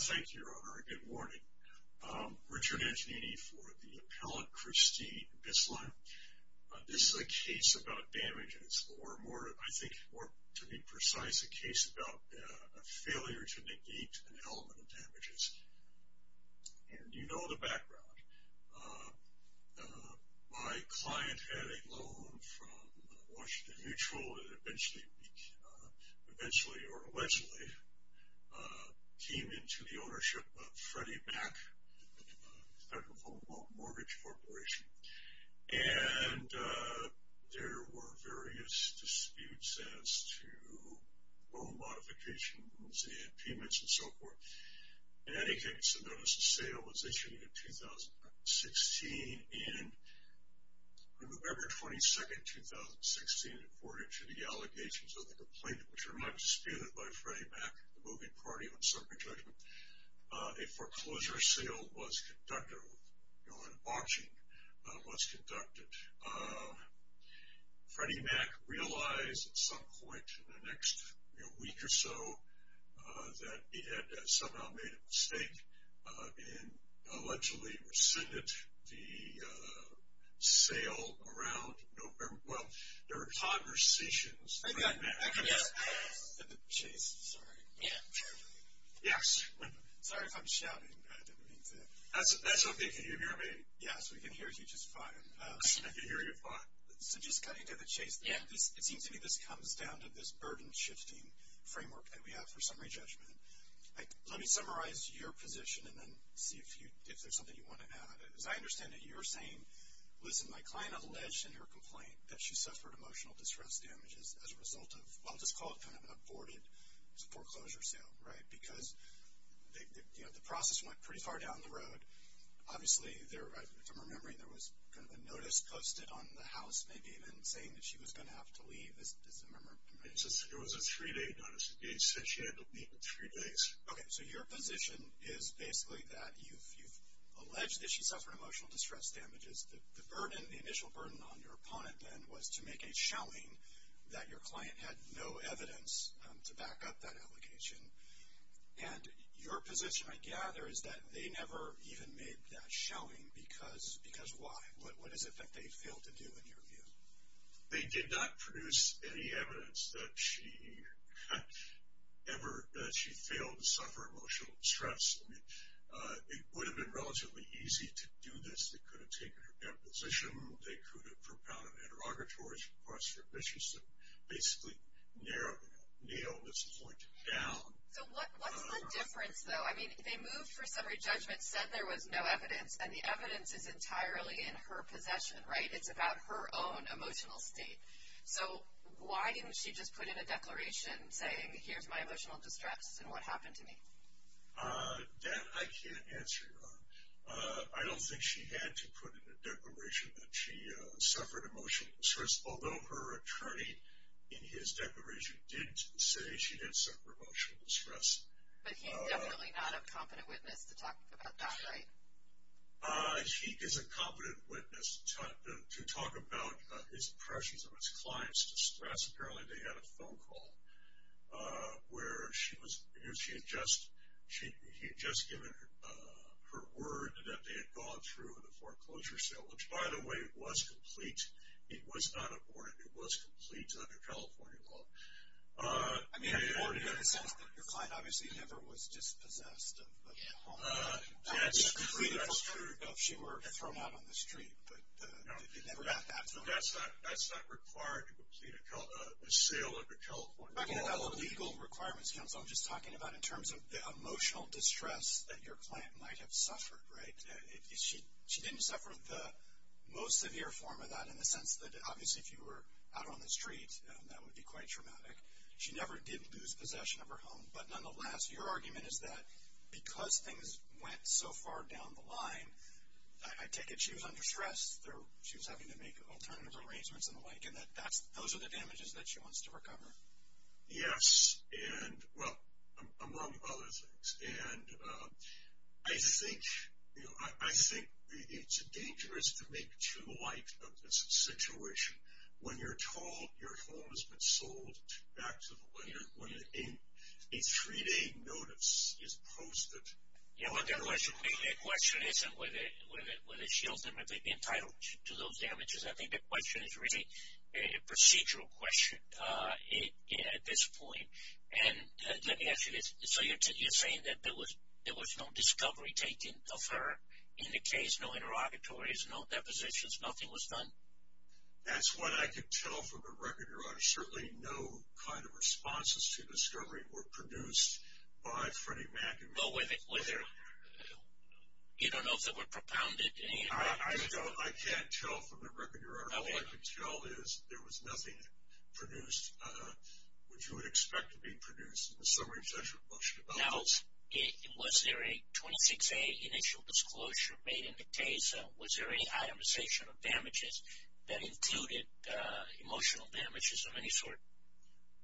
Thank you, Your Honor. Good morning. Richard Antonini for the appellant Christine Bistline. This is a case about damages, or more to be precise, a case about a failure to negate an element of damages. And you know the background. My client had a loan from Washington Mutual and eventually or allegedly came into the ownership of Freddie Mac, a federal home loan mortgage corporation. And there were various disputes as to loan modifications and payments and so forth. In any case, the notice of sale was issued in 2016 and on November 22, 2016, according to the allegations of the complainant, which are not disputed by Freddie Mac, the moving party on circuit judgment, a foreclosure sale was conducted. You know, an auction was conducted. But Freddie Mac realized at some point in the next week or so that he had somehow made a mistake and allegedly rescinded the sale around November. Well, there were conversations. Chase, sorry. Yes. Sorry if I'm shouting. That's okay. Can you hear me? Yes, we can hear you just fine. I can hear you fine. So just cutting to the chase, it seems to me this comes down to this burden shifting framework that we have for summary judgment. Let me summarize your position and then see if there's something you want to add. As I understand it, you're saying, listen, my client alleged in her complaint that she suffered emotional distress damages as a result of what was called kind of an aborted foreclosure sale, right? Because, you know, the process went pretty far down the road. Obviously, if I'm remembering, there was kind of a notice posted on the house, maybe even saying that she was going to have to leave, as I remember. It was a three-day notice. It said she had to leave in three days. Okay. So your position is basically that you've alleged that she suffered emotional distress damages. The initial burden on your opponent then was to make a showing that your client had no evidence to back up that allegation. And your position, I gather, is that they never even made that showing because why? What is it that they failed to do, in your view? They did not produce any evidence that she ever failed to suffer emotional distress. I mean, it would have been relatively easy to do this. They could have taken her deposition. They could have propelled an interrogatory request for admission, so basically nailed this point down. So what's the difference, though? I mean, they moved for summary judgment, said there was no evidence, and the evidence is entirely in her possession, right? It's about her own emotional state. So why didn't she just put in a declaration saying, here's my emotional distress and what happened to me? That I can't answer, Yvonne. I don't think she had to put in a declaration that she suffered emotional distress, although her attorney in his declaration did say she did suffer emotional distress. But he's definitely not a competent witness to talk about that, right? He is a competent witness to talk about his impressions of his clients' distress. Apparently they had a phone call where she had just given her word that they had gone through the foreclosure sale, which, by the way, was complete. It was not aborted. It was complete under California law. I mean, it sounds like your client obviously never was dispossessed of the home. That's true. That's true. She was thrown out on the street, but they never got that from her. That's not required to complete a sale under California law. I'm not talking about the legal requirements, counsel. I'm just talking about in terms of the emotional distress that your client might have suffered, right? She didn't suffer the most severe form of that in the sense that, obviously, if you were out on the street, that would be quite traumatic. She never did lose possession of her home. But, nonetheless, your argument is that because things went so far down the line, I take it she was under stress. She was having to make alternative arrangements and the like, and that those are the damages that she wants to recover. Yes, and, well, among other things. And I think it's dangerous to make too light of this situation. When you're told your home has been sold back to the lender, when a three-day notice is posted. Yeah, well, the question isn't whether she owes them, if they've been entitled to those damages. I think the question is really a procedural question at this point. And let me ask you this. So you're saying that there was no discovery taken of her in the case, no interrogatories, no depositions, nothing was done? That's what I could tell from the record, Your Honor. Certainly no kind of responses to discovery were produced by Freddie Mac. You don't know if they were propounded in any way? I don't. I can't tell from the record, Your Honor. All I can tell is there was nothing produced, which you would expect to be produced, in the summary of the judgment motion. Now, was there a 26A initial disclosure made in the case? Was there any itemization of damages that included emotional damages of any sort?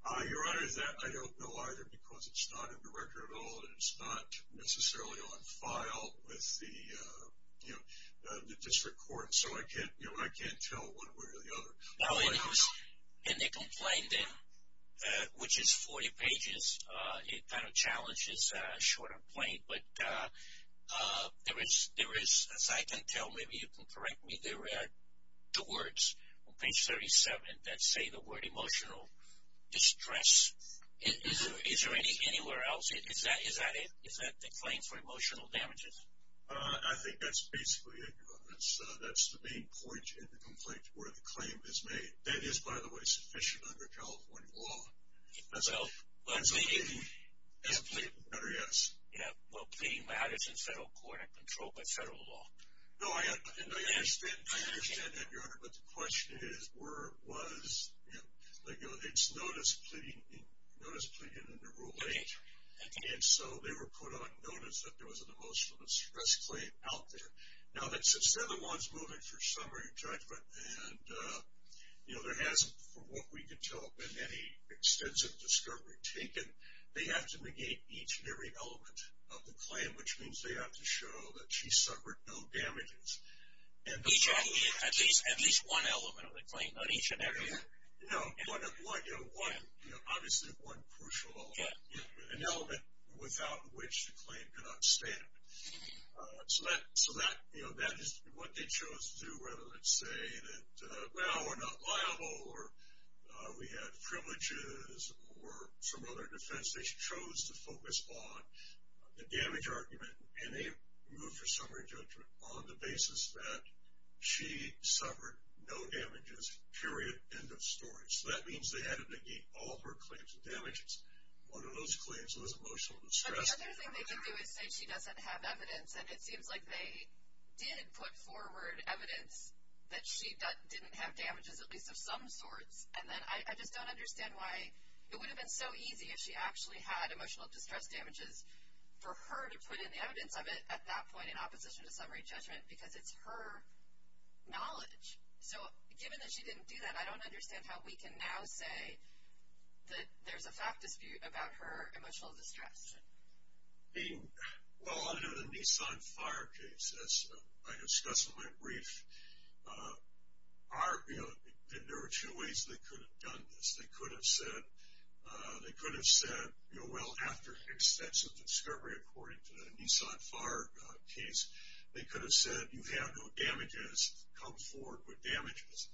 Your Honor, I don't know either because it's not in the record at all, and it's not necessarily on file with the district court. So I can't tell one way or the other. And they complained in, which is 40 pages. It kind of challenges short and plain. But there is, as I can tell, maybe you can correct me, there are two words on page 37 that say the word emotional distress. Is there anywhere else? Is that the claim for emotional damages? I think that's basically it, Your Honor. That's the main point in the complaint where the claim is made. That is, by the way, sufficient under California law. As a plea, Your Honor, yes. Yeah, well, pleading matters in federal court and controlled by federal law. No, I understand that, Your Honor, but the question is, was it's known as pleading under Rule 8. And so they were put on notice that there was an emotional distress claim out there. Now, since they're the ones moving for summary judgment, and there hasn't, from what we can tell, been any extensive discovery taken, they have to negate each and every element of the claim, which means they have to show that she suffered no damages. At least one element of the claim, not each and every. No, one, obviously one crucial element, an element without which the claim could not stand. So that is what they chose to do rather than say that, well, we're not liable, or we had privileges, or some other defense. They chose to focus on the damage argument, and they moved for summary judgment on the basis that she suffered no damages, period, end of story. So that means they had to negate all of her claims of damages. One of those claims was emotional distress. The other thing they can do is say she doesn't have evidence, and it seems like they did put forward evidence that she didn't have damages, at least of some sorts. And then I just don't understand why it would have been so easy if she actually had emotional distress damages for her to put in the evidence of it at that point in opposition to summary judgment because it's her knowledge. So given that she didn't do that, I don't understand how we can now say that there's a fact dispute about her emotional distress. Well, under the Nissan Fire case, as I discussed in my brief, there are two ways they could have done this. They could have said, well, after extensive discovery, according to the Nissan Fire case, they could have said, you have no damages, come forward with damages.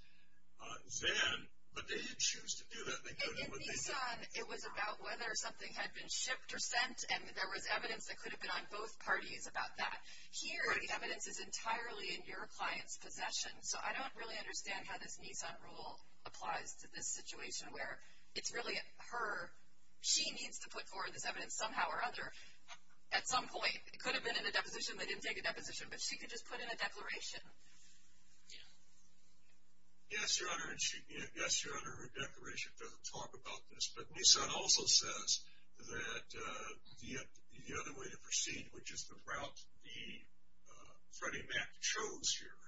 But they didn't choose to do that. And in Nissan, it was about whether something had been shipped or sent, and there was evidence that could have been on both parties about that. Here, the evidence is entirely in your client's possession. So I don't really understand how this Nissan rule applies to this situation where it's really her, she needs to put forward this evidence somehow or other at some point. It could have been in a deposition. They didn't take a deposition, but she could just put in a declaration. Yeah. Yes, Your Honor, her declaration doesn't talk about this, but Nissan also says that the other way to proceed, which is the route that Freddie Mac chose here,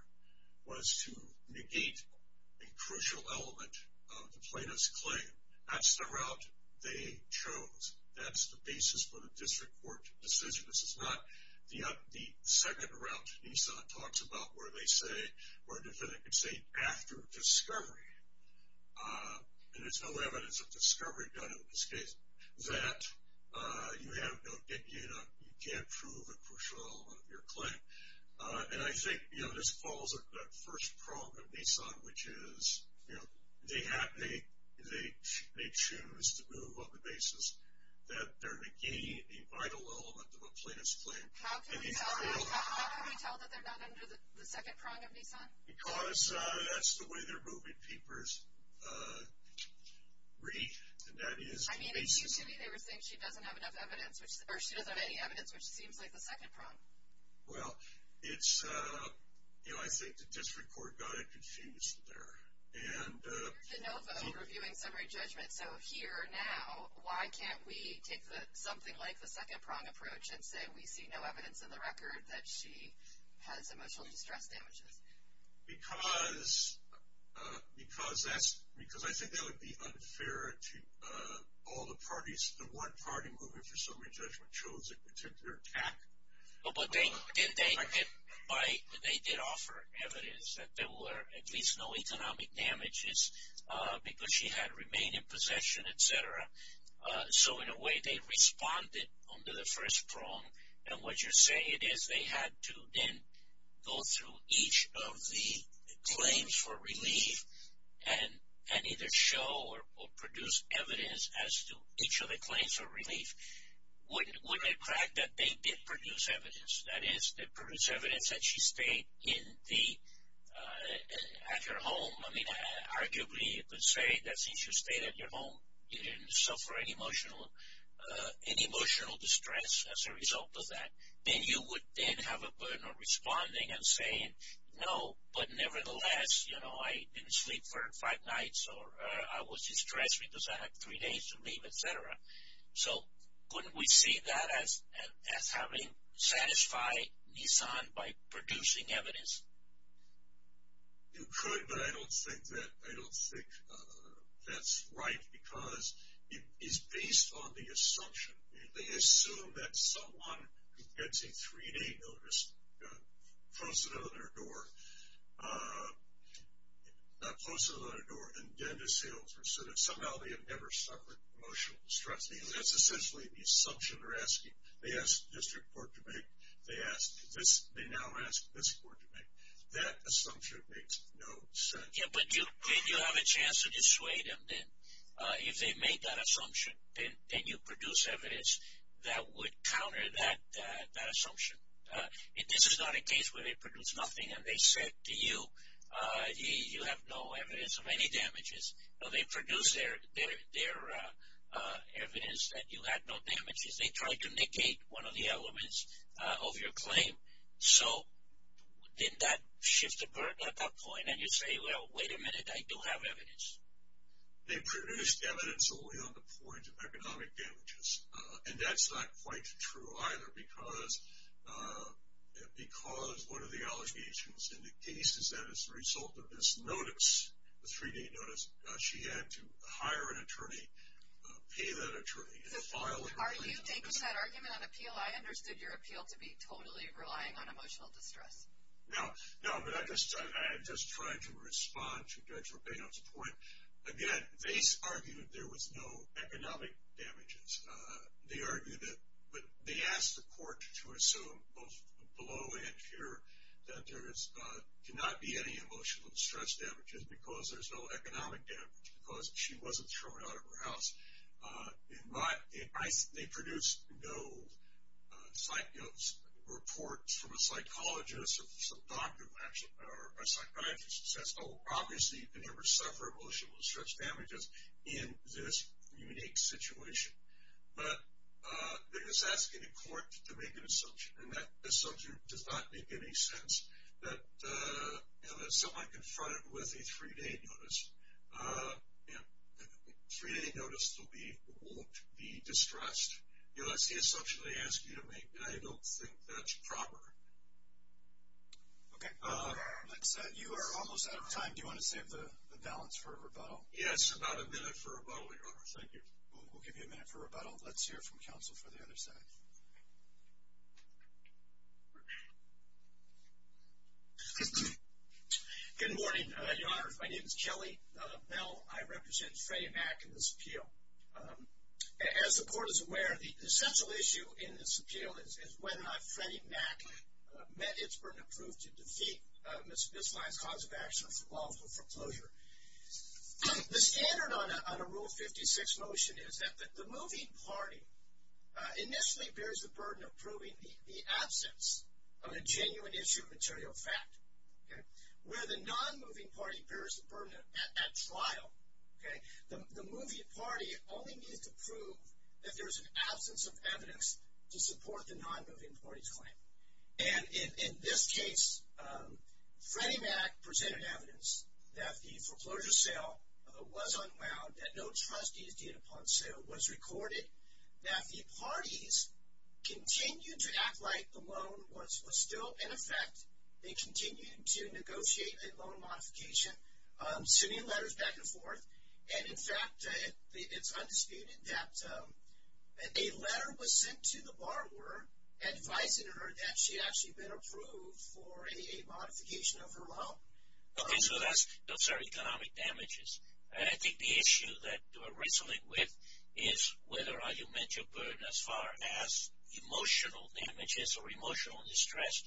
was to negate a crucial element of the plaintiff's claim. That's the route they chose. That's the basis for the district court decision. This is not the second route Nissan talks about where they say, where the defendant can say after discovery, and there's no evidence of discovery done in this case, that you can't prove a crucial element of your claim. And I think this falls under that first prong of Nissan, which is they choose to move on the basis that they're negating a vital element of a plaintiff's claim. How can we tell that they're not under the second prong of Nissan? Because that's the way their moving papers read. I mean, it seems to me they were saying she doesn't have enough evidence, or she doesn't have any evidence, which seems like the second prong. Well, it's, you know, I think the district court got it confused there. You're de novo reviewing summary judgment, so here now why can't we take something like the second prong approach and say we see no evidence in the record that she has emotional distress damages? Because I think that would be unfair to all the parties. The one party moving for summary judgment chose a particular attack. But they did offer evidence that there were at least no economic damages because she had remained in possession, et cetera. So in a way they responded under the first prong. And what you're saying is they had to then go through each of the claims for relief and either show or produce evidence as to each of the claims for relief. Wouldn't it crack that they did produce evidence? That is, they produced evidence that she stayed at her home. I mean, arguably you could say that since you stayed at your home, you didn't suffer any emotional distress as a result of that. Then you would then have a burden of responding and saying, no, but nevertheless, you know, I didn't sleep for five nights or I was distressed because I had three days to leave, et cetera. So couldn't we see that as having satisfied Nissan by producing evidence? You could, but I don't think that's right because it is based on the assumption. They assume that someone who gets a three-day notice posted it on their door, not posted it on their door, and then the sales person, somehow they have never suffered emotional distress. That's essentially the assumption they're asking. They ask the district court to make. They now ask this court to make. That assumption makes no sense. Yeah, but you have a chance to dissuade them then. If they made that assumption, then you produce evidence that would counter that assumption. This is not a case where they produced nothing and they said to you, you have no evidence of any damages. No, they produced their evidence that you had no damages. They tried to negate one of the elements of your claim. So did that shift the burden at that point? And you say, well, wait a minute, I do have evidence. They produced evidence only on the point of economic damages, and that's not quite true either because one of the allegations in the case is that as a result of this notice, the three-day notice, she had to hire an attorney, pay that attorney, and file a complaint. So are you taking that argument on appeal? I understood your appeal to be totally relying on emotional distress. No, but I'm just trying to respond to Judge Robbeno's point. Again, they argued there was no economic damages. They argued that they asked the court to assume both below and here that there cannot be any emotional distress damages because there's no economic damage, because she wasn't thrown out of her house. They produced no reports from a psychologist or a psychiatrist that says, oh, obviously you can never suffer emotional distress damages in this unique situation. But they're just asking the court to make an assumption, and that assumption does not make any sense that someone confronted with a three-day notice will be distressed. That's the assumption they ask you to make, and I don't think that's proper. Okay. That said, you are almost out of time. Do you want to save the balance for a rebuttal? Thank you. We'll give you a minute for rebuttal. Let's hear it from counsel for the other side. Good morning, Your Honor. My name is Kelly Bell. I represent Freddie Mac in this appeal. As the court is aware, the essential issue in this appeal is whether or not Freddie Mac met its burden of proof to defeat Ms. Lyon's cause of action for lawful foreclosure. The standard on a Rule 56 motion is that the moving party initially bears the burden of proving the absence of a genuine issue of material fact. Where the non-moving party bears the burden at trial, the moving party only needs to prove that there is an absence of evidence to support the non-moving party's claim. And in this case, Freddie Mac presented evidence that the foreclosure sale was unwound, that no trustees did upon sale. It was recorded that the parties continued to act like the loan was still in effect. They continued to negotiate a loan modification, sending letters back and forth. And in fact, it's undisputed that a letter was sent to the borrower advising her that she had actually been approved for a modification of her loan. Okay, so those are economic damages. And I think the issue that we're wrestling with is whether or not you met your burden as far as emotional damages or emotional distress.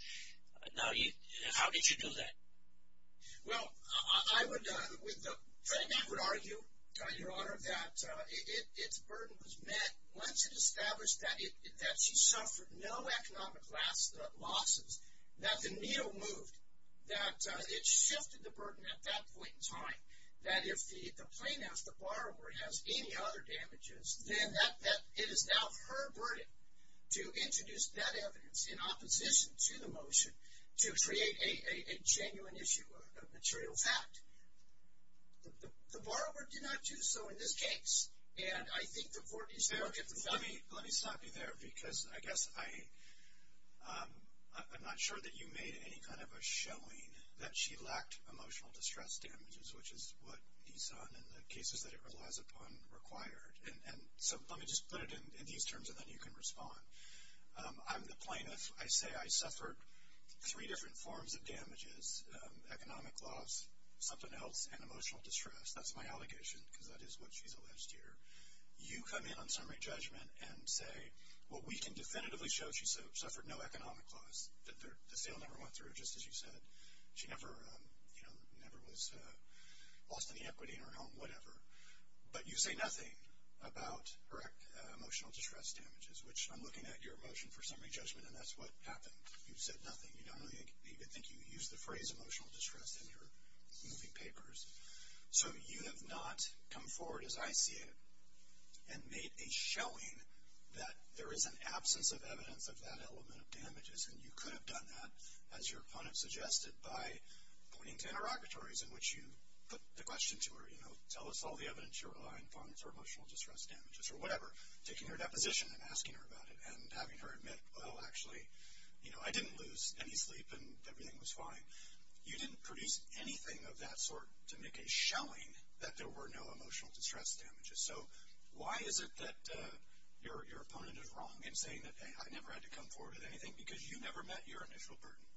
Now, how did you do that? Well, I would argue, Your Honor, that its burden was met once it established that she suffered no economic losses, that the needle moved, that it shifted the burden at that point in time. That if the plaintiff, the borrower, has any other damages, then it is now her burden to introduce that evidence in opposition to the motion to create a genuine issue, a material fact. The borrower did not do so in this case. And I think the court needs to look at the study. Let me stop you there because I guess I'm not sure that you made any kind of a showing that she lacked emotional distress damages, which is what he saw in the cases that it relies upon required. And so let me just put it in these terms and then you can respond. I'm the plaintiff. I say I suffered three different forms of damages, economic loss, something else, and emotional distress. That's my allegation because that is what she's alleged here. You come in on summary judgment and say, well, we can definitively show she suffered no economic loss, that the sale never went through, just as you said. She never was lost in the equity in her home, whatever. But you say nothing about correct emotional distress damages, which I'm looking at your motion for summary judgment, and that's what happened. You said nothing. You don't even think you used the phrase emotional distress in your moving papers. So you have not come forward, as I see it, and made a showing that there is an absence of evidence of that element of damages, and you could have done that, as your opponent suggested, by pointing to interrogatories in which you put the question to her, you know, tell us all the evidence you rely upon for emotional distress damages or whatever, taking her deposition and asking her about it and having her admit, well, actually, you know, I didn't lose any sleep and everything was fine. You didn't produce anything of that sort to make a showing that there were no emotional distress damages. So why is it that your opponent is wrong in saying that, hey, I never had to come forward with anything because you never met your initial burden?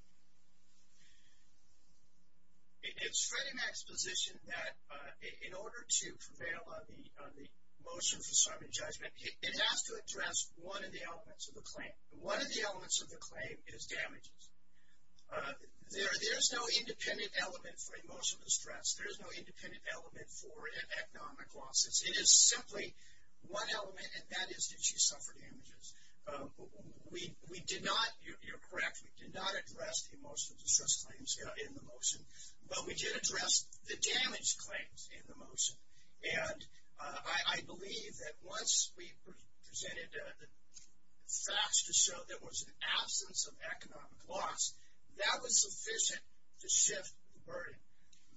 It's Freddie Mac's position that in order to prevail on the motion for summary judgment, it has to address one of the elements of the claim. One of the elements of the claim is damages. There is no independent element for emotional distress. There is no independent element for economic losses. It is simply one element, and that is did she suffer damages. We did not, you're correct, we did not address the emotional distress claims in the motion, but we did address the damage claims in the motion. And I believe that once we presented facts to show there was an absence of economic loss, that was sufficient to shift the burden.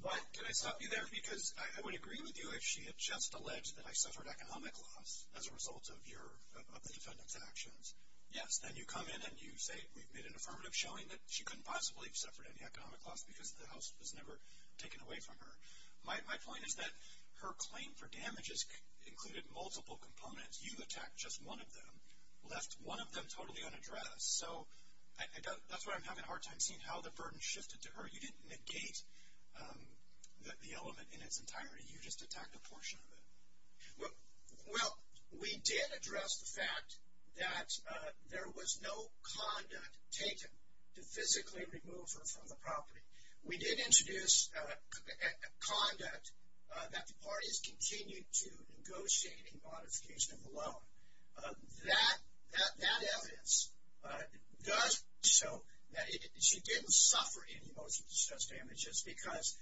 Why did I stop you there? Because I would agree with you if she had just alleged that I suffered economic loss as a result of the defendant's actions. Yes, then you come in and you say we've made an affirmative showing that she couldn't possibly have suffered any economic loss because the house was never taken away from her. My point is that her claim for damages included multiple components. You attacked just one of them, left one of them totally unaddressed. So that's why I'm having a hard time seeing how the burden shifted to her. But you didn't negate the element in its entirety. You just attacked a portion of it. Well, we did address the fact that there was no conduct taken to physically remove her from the property. We did introduce conduct that the parties continued to negotiate a modification of the loan. That evidence does show that she didn't suffer any emotional distress damages because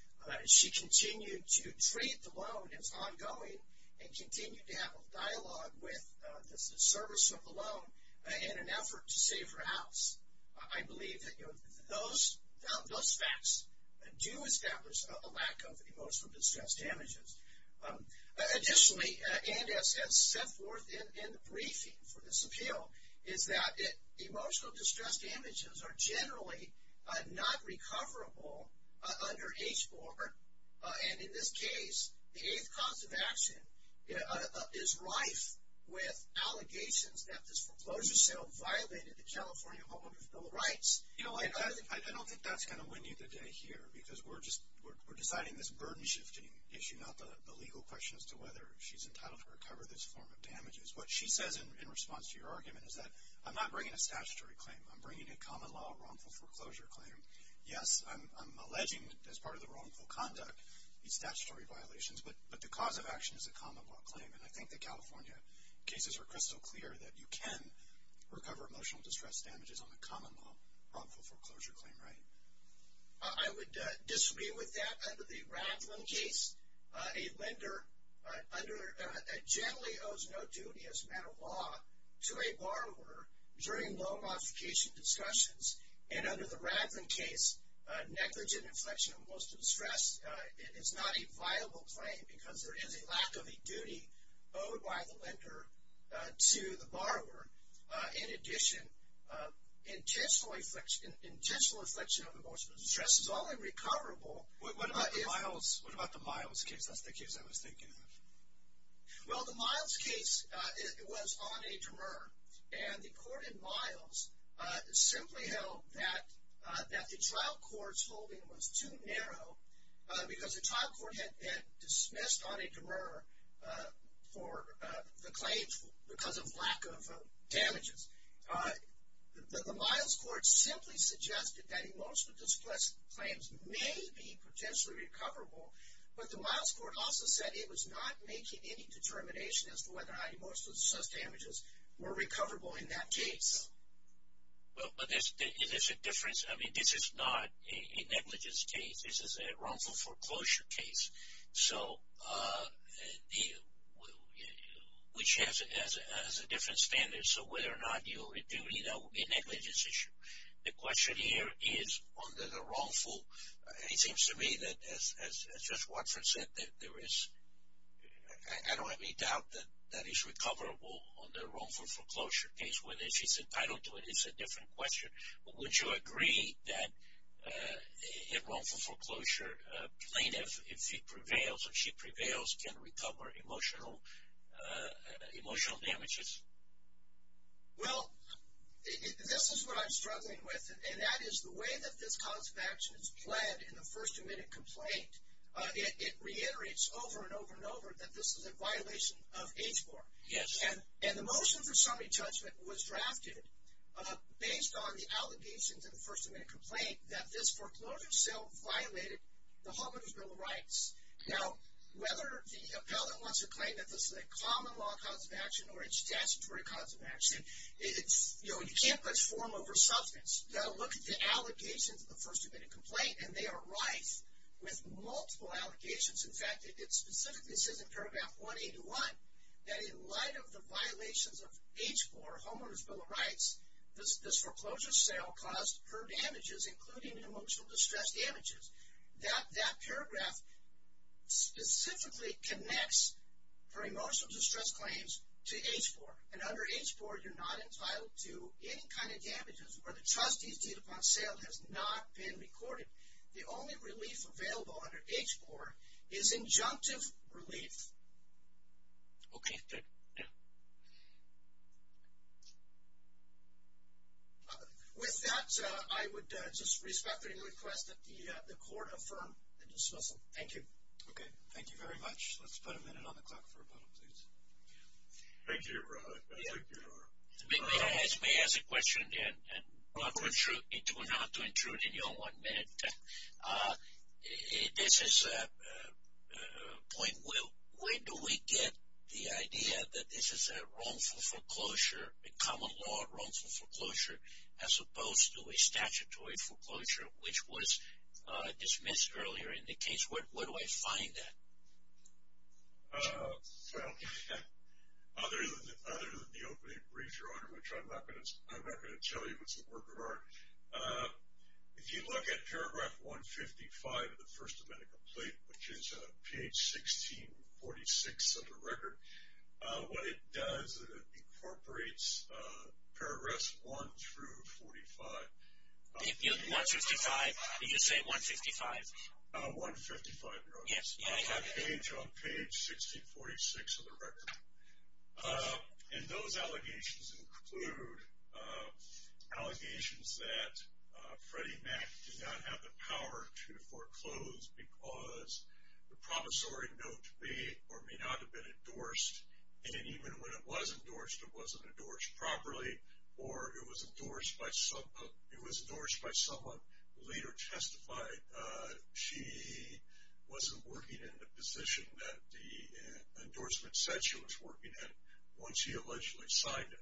she continued to treat the loan as ongoing and continued to have a dialogue with the servicer of the loan in an effort to save her house. I believe that those facts do establish a lack of emotional distress damages. Additionally, and as set forth in the briefing for this appeal, is that emotional distress damages are generally not recoverable under HBOR. And in this case, the eighth cause of action is rife with allegations that this foreclosure sale violated the California Homeowner's Bill of Rights. You know, I don't think that's going to win you the day here because we're deciding this burden shifting issue, not the legal question as to whether she's entitled to recover this form of damages. What she says in response to your argument is that I'm not bringing a statutory claim. I'm bringing a common law wrongful foreclosure claim. Yes, I'm alleging as part of the wrongful conduct these statutory violations, but the cause of action is a common law claim. And I think the California cases are crystal clear that you can recover emotional distress damages on a common law wrongful foreclosure claim, right? I would disagree with that. Under the Radlin case, a lender generally owes no duty as a matter of law to a borrower during loan modification discussions. And under the Radlin case, negligent inflection of emotional distress is not a viable claim because there is a lack of a duty owed by the lender to the borrower. In addition, intentional inflection of emotional distress is only recoverable. What about the Miles case? That's the case I was thinking of. Well, the Miles case was on a demur. And the court in Miles simply held that the trial court's holding was too narrow because the trial court had dismissed on a demur for the claims because of lack of damages. The Miles court simply suggested that emotional distress claims may be potentially recoverable, but the Miles court also said it was not making any determination as to whether how emotional distress damages were recoverable in that case. Well, but there's a difference. I mean, this is not a negligence case. This is a wrongful foreclosure case, which has a different standard. So whether or not you owe a duty, that would be a negligence issue. The question here is on the wrongful. It seems to me that, as Judge Watford said, that there is, I don't have any doubt that that is recoverable on the wrongful foreclosure case. Whether she's entitled to it is a different question. Would you agree that a wrongful foreclosure plaintiff, if he prevails or she prevails, can recover emotional damages? Well, this is what I'm struggling with, and that is the way that this concept of action is played in the first two-minute complaint. It reiterates over and over and over that this is a violation of HBOR. Yes. And the motion for summary judgment was drafted based on the allegations in the first two-minute complaint that this foreclosure sale violated the Homeowner's Bill of Rights. Now, whether the appellant wants to claim that this is a common law cause of action or a statutory cause of action, you can't push form over substance. Look at the allegations of the first two-minute complaint, and they are rife with multiple allegations. In fact, it specifically says in paragraph 181 that in light of the violations of HBOR, Homeowner's Bill of Rights, this foreclosure sale caused her damages, including emotional distress damages. That paragraph specifically connects her emotional distress claims to HBOR. And under HBOR, you're not entitled to any kind of damages where the trustee's deed upon sale has not been recorded. The only relief available under HBOR is injunctive relief. Okay, good. Yeah. With that, I would just respectfully request that the Court affirm the discussion. Thank you. Okay. Thank you very much. Let's put a minute on the clock for a moment, please. Thank you, Robert. Thank you, Robert. May I ask a question, and not to intrude in your one-minute? This is a point where do we get the idea that this is a wrongful foreclosure, a common law wrongful foreclosure, as opposed to a statutory foreclosure, which was dismissed earlier in the case? Where do I find that? Well, other than the opening brief, Your Honor, which I'm not going to tell you what's the work of art, if you look at paragraph 155 of the First Amendment complaint, which is page 1646 of the record, what it does, it incorporates paragraphs 1 through 45. Did you say 155? 155, Your Honor. On page 1646 of the record. And those allegations include allegations that Freddie Mac did not have the power to foreclose because the promissory note may or may not have been endorsed, and even when it was endorsed, it wasn't endorsed properly, or it was endorsed by someone who later testified she wasn't working in the position that the endorsement said she was working in once he allegedly signed it.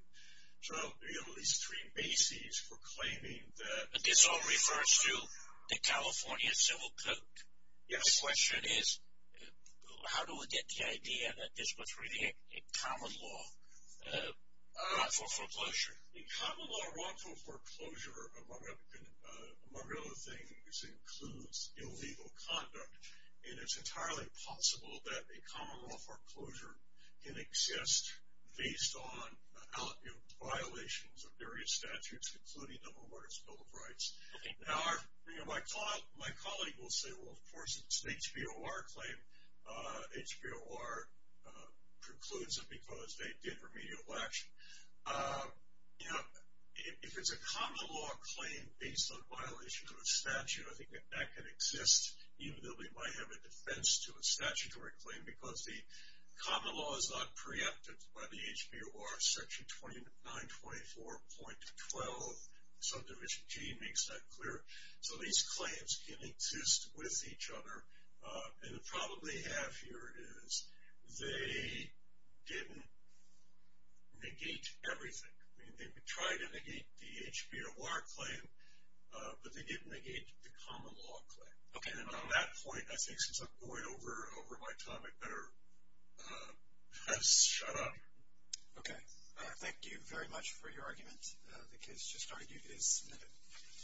So you have at least three bases for claiming that. This all refers to the California Civil Code. Yes. The question is how do we get the idea that this was really a common law, wrongful foreclosure? A common law wrongful foreclosure, among other things, includes illegal conduct, and it's entirely possible that a common law foreclosure can exist based on violations of various statutes, including the Home Orders Bill of Rights. Okay. Now, my colleague will say, well, of course, it's an HBOR claim. HBOR precludes it because they did remedial action. You know, if it's a common law claim based on violations of a statute, I think that that can exist, even though they might have a defense to a statutory claim because the common law is not preempted by the HBOR Section 2924.12. Subdivision G makes that clear. So these claims can exist with each other, and the problem they have here is they didn't negate everything. They tried to negate the HBOR claim, but they didn't negate the common law claim. Okay. And on that point, I think since I'm going over my time, I'd better shut up. Okay. Thank you very much for your argument. The case just argued is submitted.